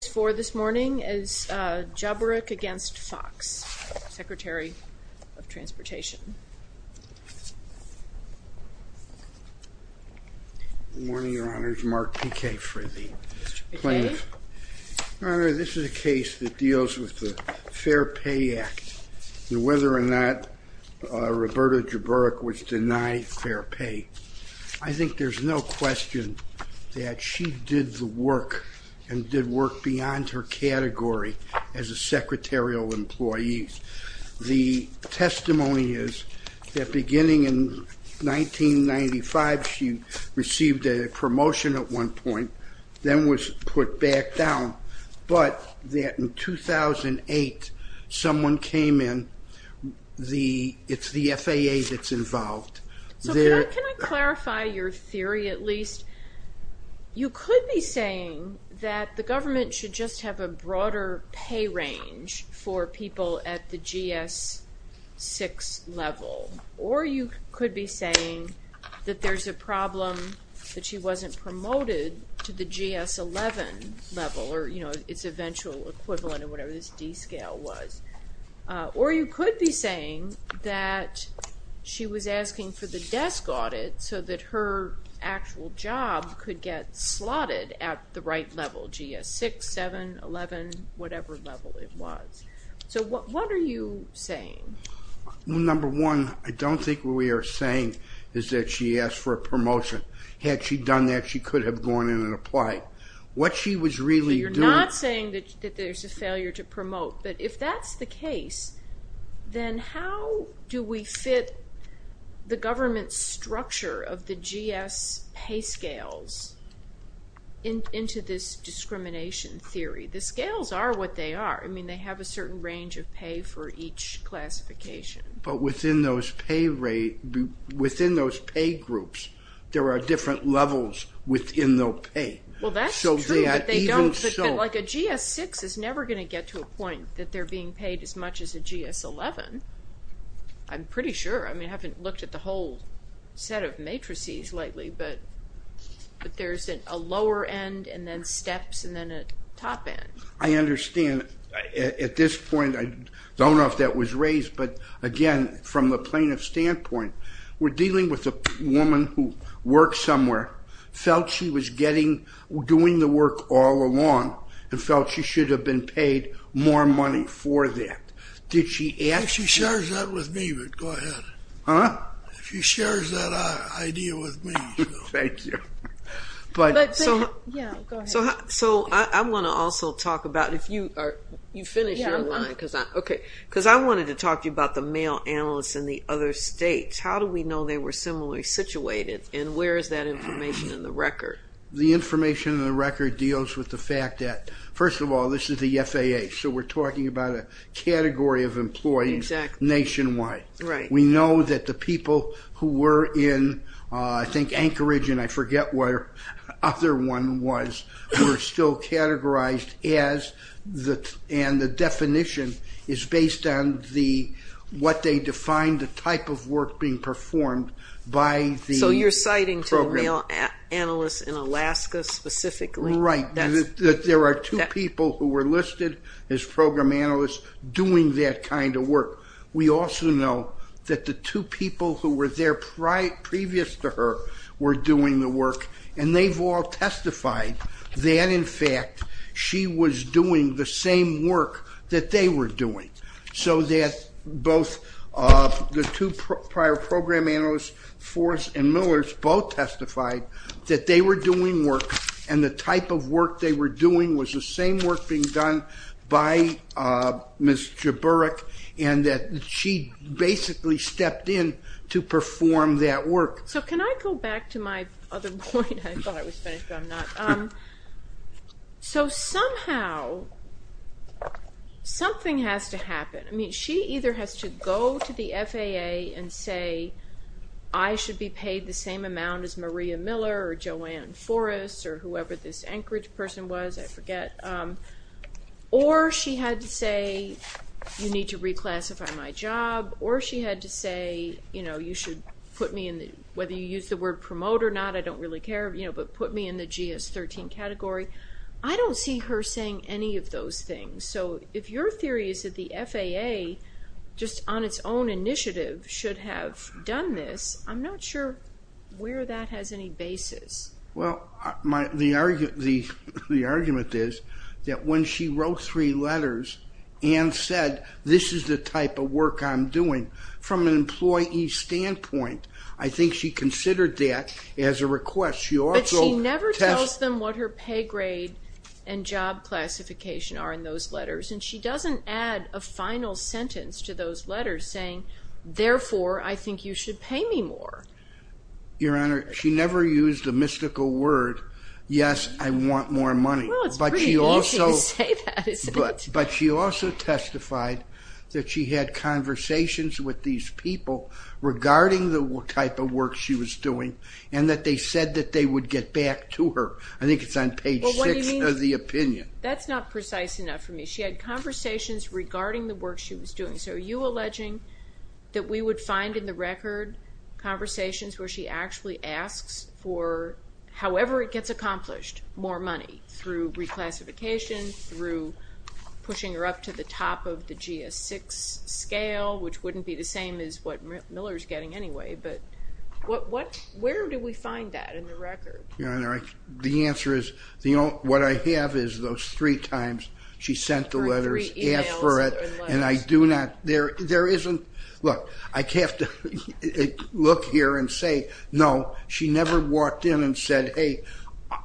as Jaburek v. Foxx, Secretary of Transportation. Good morning, Your Honor. It's Mark P.K. Fridley, plaintiff. Your Honor, this is a case that deals with the Fair Pay Act, and whether or not Roberta Jaburek would deny fair pay. I think there's no question that she did the work and did work beyond her category as a secretarial employee. The testimony is that beginning in 1995, she received a promotion at one point, then was put back down, but that in 2008, someone came in. It's the FAA that's involved. So can I clarify your theory, at least? You could be saying that the government should just have a broader pay range for people at the GS-6 level, or you could be saying that there's a problem that she wasn't promoted to the GS-11 level, or its eventual equivalent of whatever this D-scale was. Or you could be saying that she was asking for the desk audit so that her actual job could get slotted at the right level, GS-6, 7, 11, whatever level it was. So what are you saying? Number one, I don't think what we are saying is that she asked for a promotion. Had she done that, she could have gone in and applied. What she was really doing... So you're not saying that there's a failure to promote, but if that's the case, then how do we fit the government's structure of the GS pay scales into this discrimination theory? The scales are what they are. I mean, they have a certain range of pay for each classification. But within those pay groups, there are different levels within their pay. Well, that's true, but they don't... Like a GS-6 is never going to get to a point that they're being paid as much as a GS-11. I'm pretty sure. I mean, I haven't looked at the whole set of matrices lately, but there's a lower end and then steps and then a top end. I understand. At this point, I don't know if that was raised, but again, from the plaintiff's standpoint, we're dealing with a woman who worked somewhere, felt she was doing the work all along, and felt she should have been paid more money for that. Did she ask you? She shares that with me, but go ahead. Huh? She shares that idea with me. Thank you. Yeah, go ahead. So I want to also talk about... You finished your line, because I wanted to talk to you about the male analysts in the other states. How do we know they were similarly situated, and where is that information in the record? The information in the record deals with the fact that, first of all, this is the FAA, so we're talking about a category of employees nationwide. We know that the people who were in, I think, Anchorage, and I forget where the other one was, were still categorized as... And the definition is based on what they defined, the type of work being performed by the program. You're talking to male analysts in Alaska specifically? Right. There are two people who were listed as program analysts doing that kind of work. We also know that the two people who were there previous to her were doing the work, and they've all testified that, in fact, she was doing the same work that they were doing, so that both the two prior program analysts, Forrest and Millers, both testified that they were doing work, and the type of work they were doing was the same work being done by Ms. Jaburek, and that she basically stepped in to perform that work. So can I go back to my other point? I thought I was finished, but I'm not. So somehow, something has to happen. She either has to go to the FAA and say, I should be paid the same amount as Maria Miller or Joanne Forrest or whoever this Anchorage person was, I forget, or she had to say, you need to reclassify my job, or she had to say, whether you use the word promote or not, I don't really care, but put me in the GS-13 category. I don't see her saying any of those things. So if your theory is that the FAA, just on its own initiative, should have done this, I'm not sure where that has any basis. Well, the argument is that when she wrote three letters and said, this is the type of work I'm doing, from an employee standpoint, I think she considered that as a request. But she never tells them what her pay grade and job classification are in those letters, and she doesn't add a final sentence to those letters saying, therefore, I think you should pay me more. Your Honor, she never used the mystical word, yes, I want more money. Well, it's pretty easy to say that, isn't it? But she also testified that she had conversations with these people regarding the type of work she was doing and that they said that they would get back to her. I think it's on page 6 of the opinion. That's not precise enough for me. She had conversations regarding the work she was doing. So are you alleging that we would find in the record conversations where she actually asks for, however it gets accomplished, more money through reclassification, through pushing her up to the top of the GS-6 scale, which wouldn't be the same as what Miller's getting anyway. But where do we find that in the record? Your Honor, the answer is what I have is those three times she sent the letters, asked for it, and I do not... There isn't... Look, I have to look here and say, no, she never walked in and said, hey,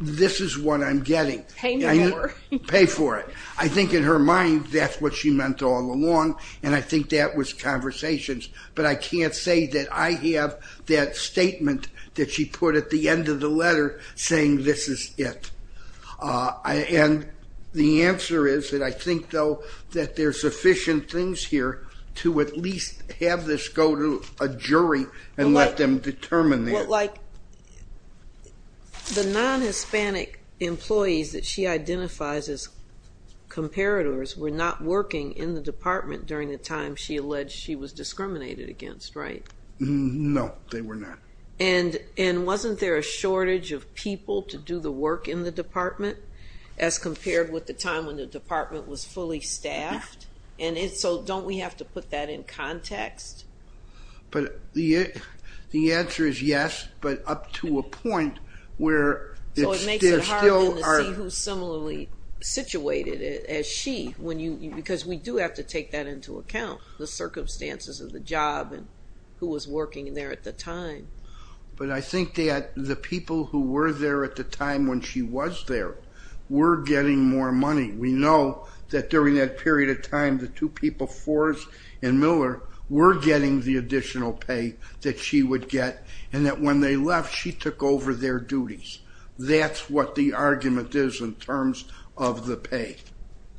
this is what I'm getting. Pay me more. Pay for it. I think in her mind that's what she meant all along, and I think that was conversations. But I can't say that I have that statement that she put at the end of the letter saying this is it. And the answer is that I think, though, that there's sufficient things here to at least have this go to a jury and let them determine that. Well, like the non-Hispanic employees that she identifies as comparators were not working in the department during the time she alleged she was discriminated against, right? No, they were not. And wasn't there a shortage of people to do the work in the department as compared with the time when the department was fully staffed? And so don't we have to put that in context? But the answer is yes, but up to a point where there still are... So it makes it harder to see who's similarly situated as she, because we do have to take that into account, the circumstances of the job and who was working there at the time. But I think that the people who were there at the time when she was there were getting more money. We know that during that period of time, the two people, Forrest and Miller, were getting the additional pay that she would get and that when they left, she took over their duties. That's what the argument is in terms of the pay.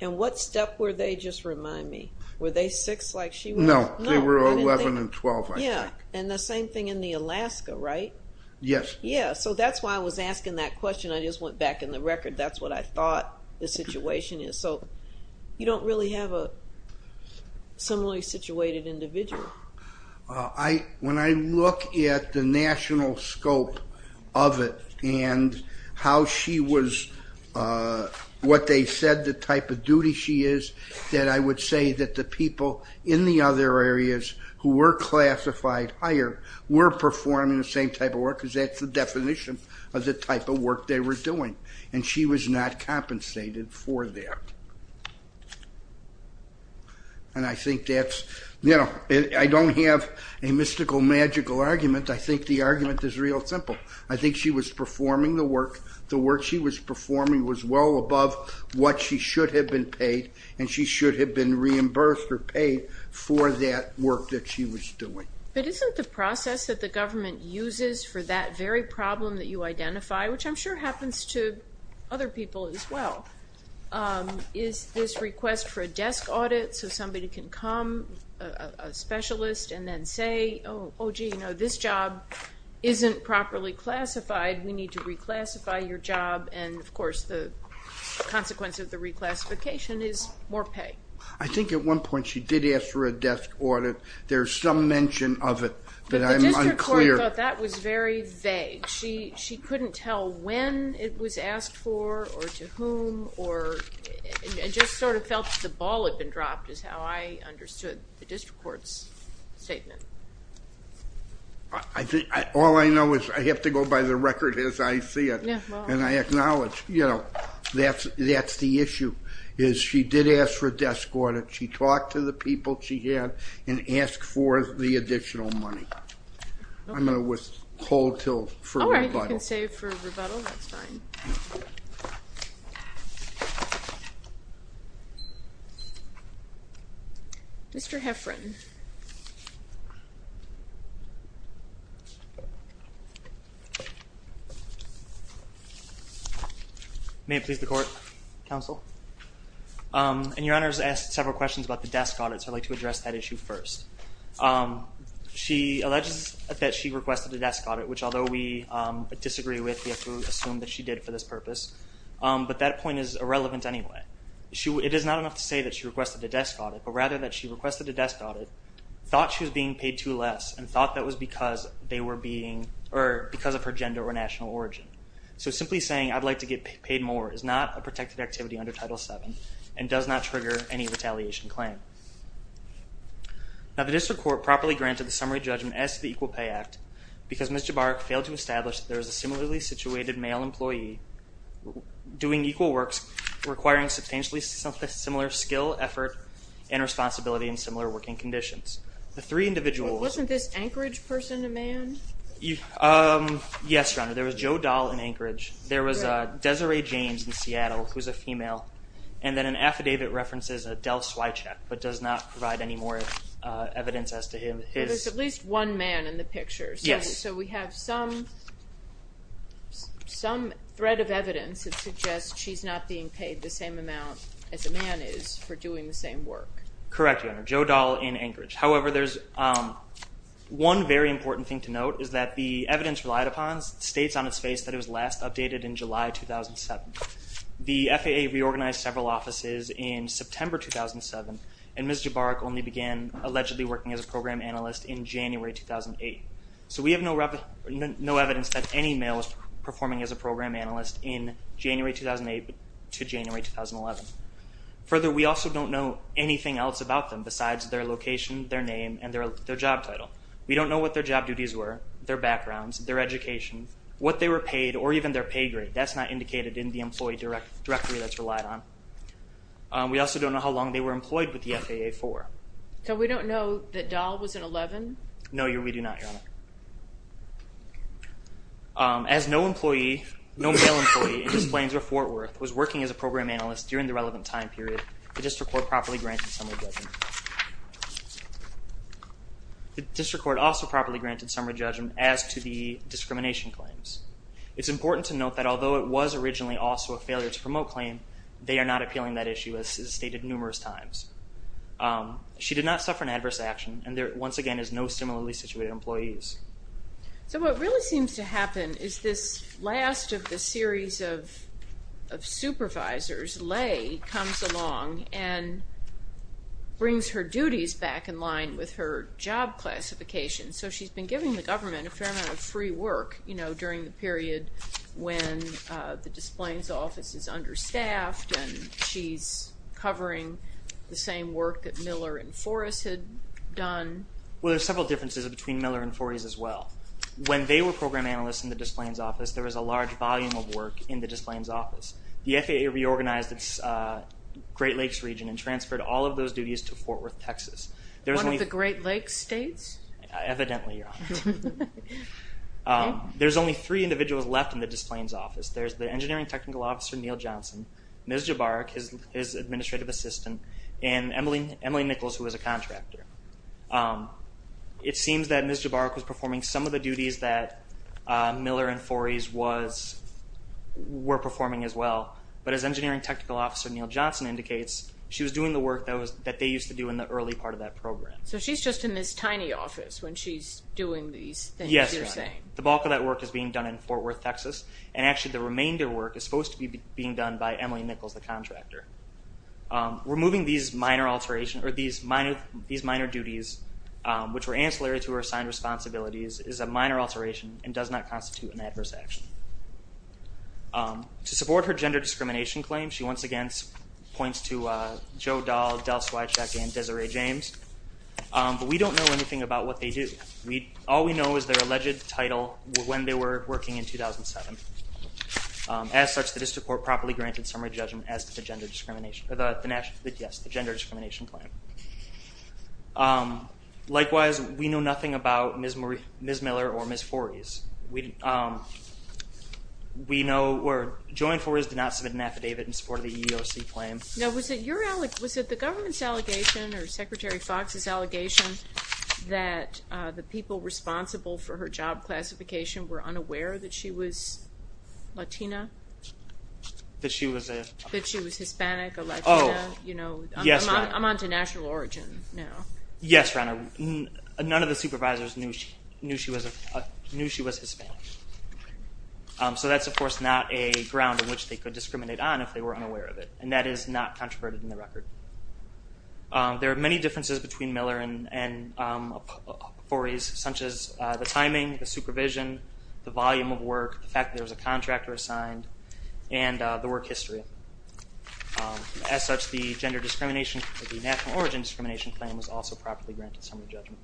And what step were they, just remind me, were they six like she was? No, they were 11 and 12, I think. Yeah, and the same thing in the Alaska, right? Yes. Yeah, so that's why I was asking that question. I just went back in the record. That's what I thought the situation is. So you don't really have a similarly situated individual. When I look at the national scope of it and what they said the type of duty she is, then I would say that the people in the other areas who were classified higher were performing the same type of work because that's the definition of the type of work they were doing, and she was not compensated for that. And I think that's, you know, I don't have a mystical, magical argument. I think the argument is real simple. I think she was performing the work. The work she was performing was well above what she should have been paid, and she should have been reimbursed or paid for that work that she was doing. But isn't the process that the government uses for that very problem that you identify, which I'm sure happens to other people as well, is this request for a desk audit so somebody can come, a specialist, and then say, oh, gee, you know, this job isn't properly classified. We need to reclassify your job. And, of course, the consequence of the reclassification is more pay. I think at one point she did ask for a desk audit. There's some mention of it, but I'm unclear. But the district court thought that was very vague. She couldn't tell when it was asked for or to whom or just sort of felt the ball had been dropped is how I understood the district court's statement. All I know is I have to go by the record as I see it, and I acknowledge, you know, that's the issue, is she did ask for a desk audit. She talked to the people she had and asked for the additional money. I'm going to withhold for rebuttal. All right, you can save for rebuttal. That's fine. Mr. Heffron. May it please the court, counsel. And Your Honor has asked several questions about the desk audit, so I'd like to address that issue first. She alleges that she requested a desk audit, which although we disagree with, we have to assume that she did for this purpose. But that point is irrelevant anyway. It is not enough to say that she requested a desk audit, but rather that she requested a desk audit, thought she was being paid too less, and thought that was because they were being or because of her gender or national origin. So simply saying, I'd like to get paid more, is not a protected activity under Title VII and does not trigger any retaliation claim. Now the district court properly granted the summary judgment as to the Equal Pay Act because Ms. Jabarik failed to establish that there was a similarly situated male employee doing equal works requiring substantially similar skill, effort, and responsibility in similar working conditions. Wasn't this Anchorage person a man? Yes, Your Honor. There was Joe Dahl in Anchorage. There was Desiree James in Seattle, who's a female. And then an affidavit references Adele Swycheck, but does not provide any more evidence as to him. There's at least one man in the picture. Yes. So we have some thread of evidence that suggests she's not being paid the same amount as a man is for doing the same work. Correct, Your Honor. Joe Dahl in Anchorage. However, there's one very important thing to note, is that the evidence relied upon states on its face that it was last updated in July 2007. The FAA reorganized several offices in September 2007, and Ms. Jabarik only began allegedly working as a program analyst in January 2008. So we have no evidence that any male was performing as a program analyst in January 2008 to January 2011. Further, we also don't know anything else about them besides their location, their name, and their job title. We don't know what their job duties were, their backgrounds, their education, what they were paid, or even their pay grade. That's not indicated in the employee directory that's relied on. We also don't know how long they were employed with the FAA for. So we don't know that Dahl was an 11? No, Your Honor. We do not, Your Honor. As no male employee in the plains of Fort Worth was working as a program analyst during the relevant time period, the district court properly granted summary judgment. The district court also properly granted summary judgment as to the discrimination claims. It's important to note that although it was originally also a failure to promote claim, they are not appealing that issue, as is stated numerous times. She did not suffer an adverse action, and there, once again, is no similarly situated employees. So what really seems to happen is this last of the series of supervisors, Lay, comes along and brings her duties back in line with her job classification. So she's been giving the government a fair amount of free work, you know, during the period when the Displains Office is understaffed and she's covering the same work that Miller and Forrest had done. Well, there are several differences between Miller and Forrest as well. When they were program analysts in the Displains Office, there was a large volume of work in the Displains Office. The FAA reorganized its Great Lakes region and transferred all of those duties to Fort Worth, Texas. One of the Great Lakes states? Evidently, Your Honor. There's only three individuals left in the Displains Office. There's the engineering technical officer, Neal Johnson, Ms. Jabarik, his administrative assistant, and Emily Nichols, who is a contractor. It seems that Ms. Jabarik was performing some of the duties that Miller and Forrest were performing as well, but as engineering technical officer Neal Johnson indicates, she was doing the work that they used to do in the early part of that program. So she's just in this tiny office when she's doing these things, you're saying? Yes, Your Honor. The bulk of that work is being done in Fort Worth, Texas, and actually the remainder work is supposed to be being done by Emily Nichols, the contractor. Removing these minor alterations or these minor duties, which were ancillary to her assigned responsibilities, is a minor alteration and does not constitute an adverse action. To support her gender discrimination claim, she once again points to Joe Dahl, Del Swycheck, and Desiree James, but we don't know anything about what they do. All we know is their alleged title, when they were working in 2007. As such, the district court properly granted summary judgment as to the gender discrimination claim. Likewise, we know nothing about Ms. Miller or Ms. Forres. Joanne Forres did not submit an affidavit in support of the EEOC claim. Now, was it the government's allegation or Secretary Foxx's allegation that the people responsible for her job classification were unaware that she was Latina? That she was a? That she was Hispanic or Latina? Oh, yes, Your Honor. I'm on to national origin now. Yes, Your Honor. None of the supervisors knew she was Hispanic. So that's, of course, not a ground on which they could discriminate on if they were unaware of it, and that is not controverted in the record. There are many differences between Miller and Forres, such as the timing, the supervision, the volume of work, the fact that there was a contractor assigned, and the work history. As such, the national origin discrimination claim was also properly granted summary judgment.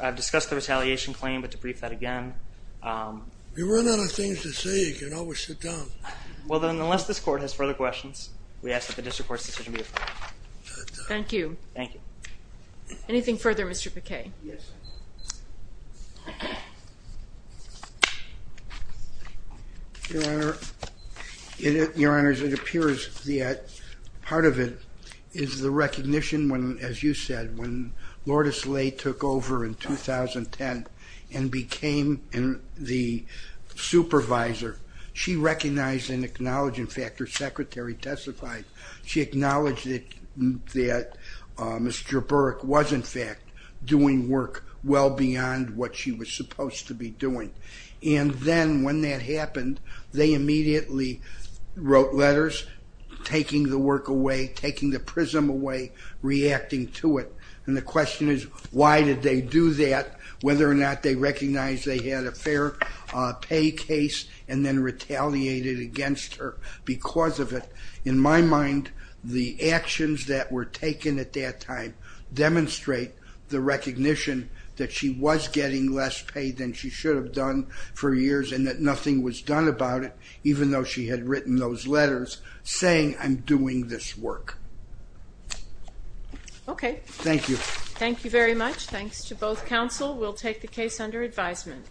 I've discussed the retaliation claim, but to brief that again. If you run out of things to say, you can always sit down. Well, then, unless this Court has further questions, we ask that the district court's decision be referred. Thank you. Thank you. Anything further, Mr. Paquet? Yes. Your Honor, it appears that part of it is the recognition, as you said, when Lourdes Lay took over in 2010 and became the supervisor, she recognized and acknowledged, in fact, her secretary testified. She acknowledged that Mr. Burke was, in fact, doing work well beyond what she was supposed to be doing. And then, when that happened, they immediately wrote letters taking the work away, taking the prism away, reacting to it. And the question is, why did they do that? Whether or not they recognized they had a fair pay case and then retaliated against her because of it. In my mind, the actions that were taken at that time demonstrate the recognition that she was getting less pay than she should have done for years and that nothing was done about it, even though she had written those letters saying, I'm doing this work. Okay. Thank you. Thank you very much. Thanks to both counsel. We'll take the case under advisement.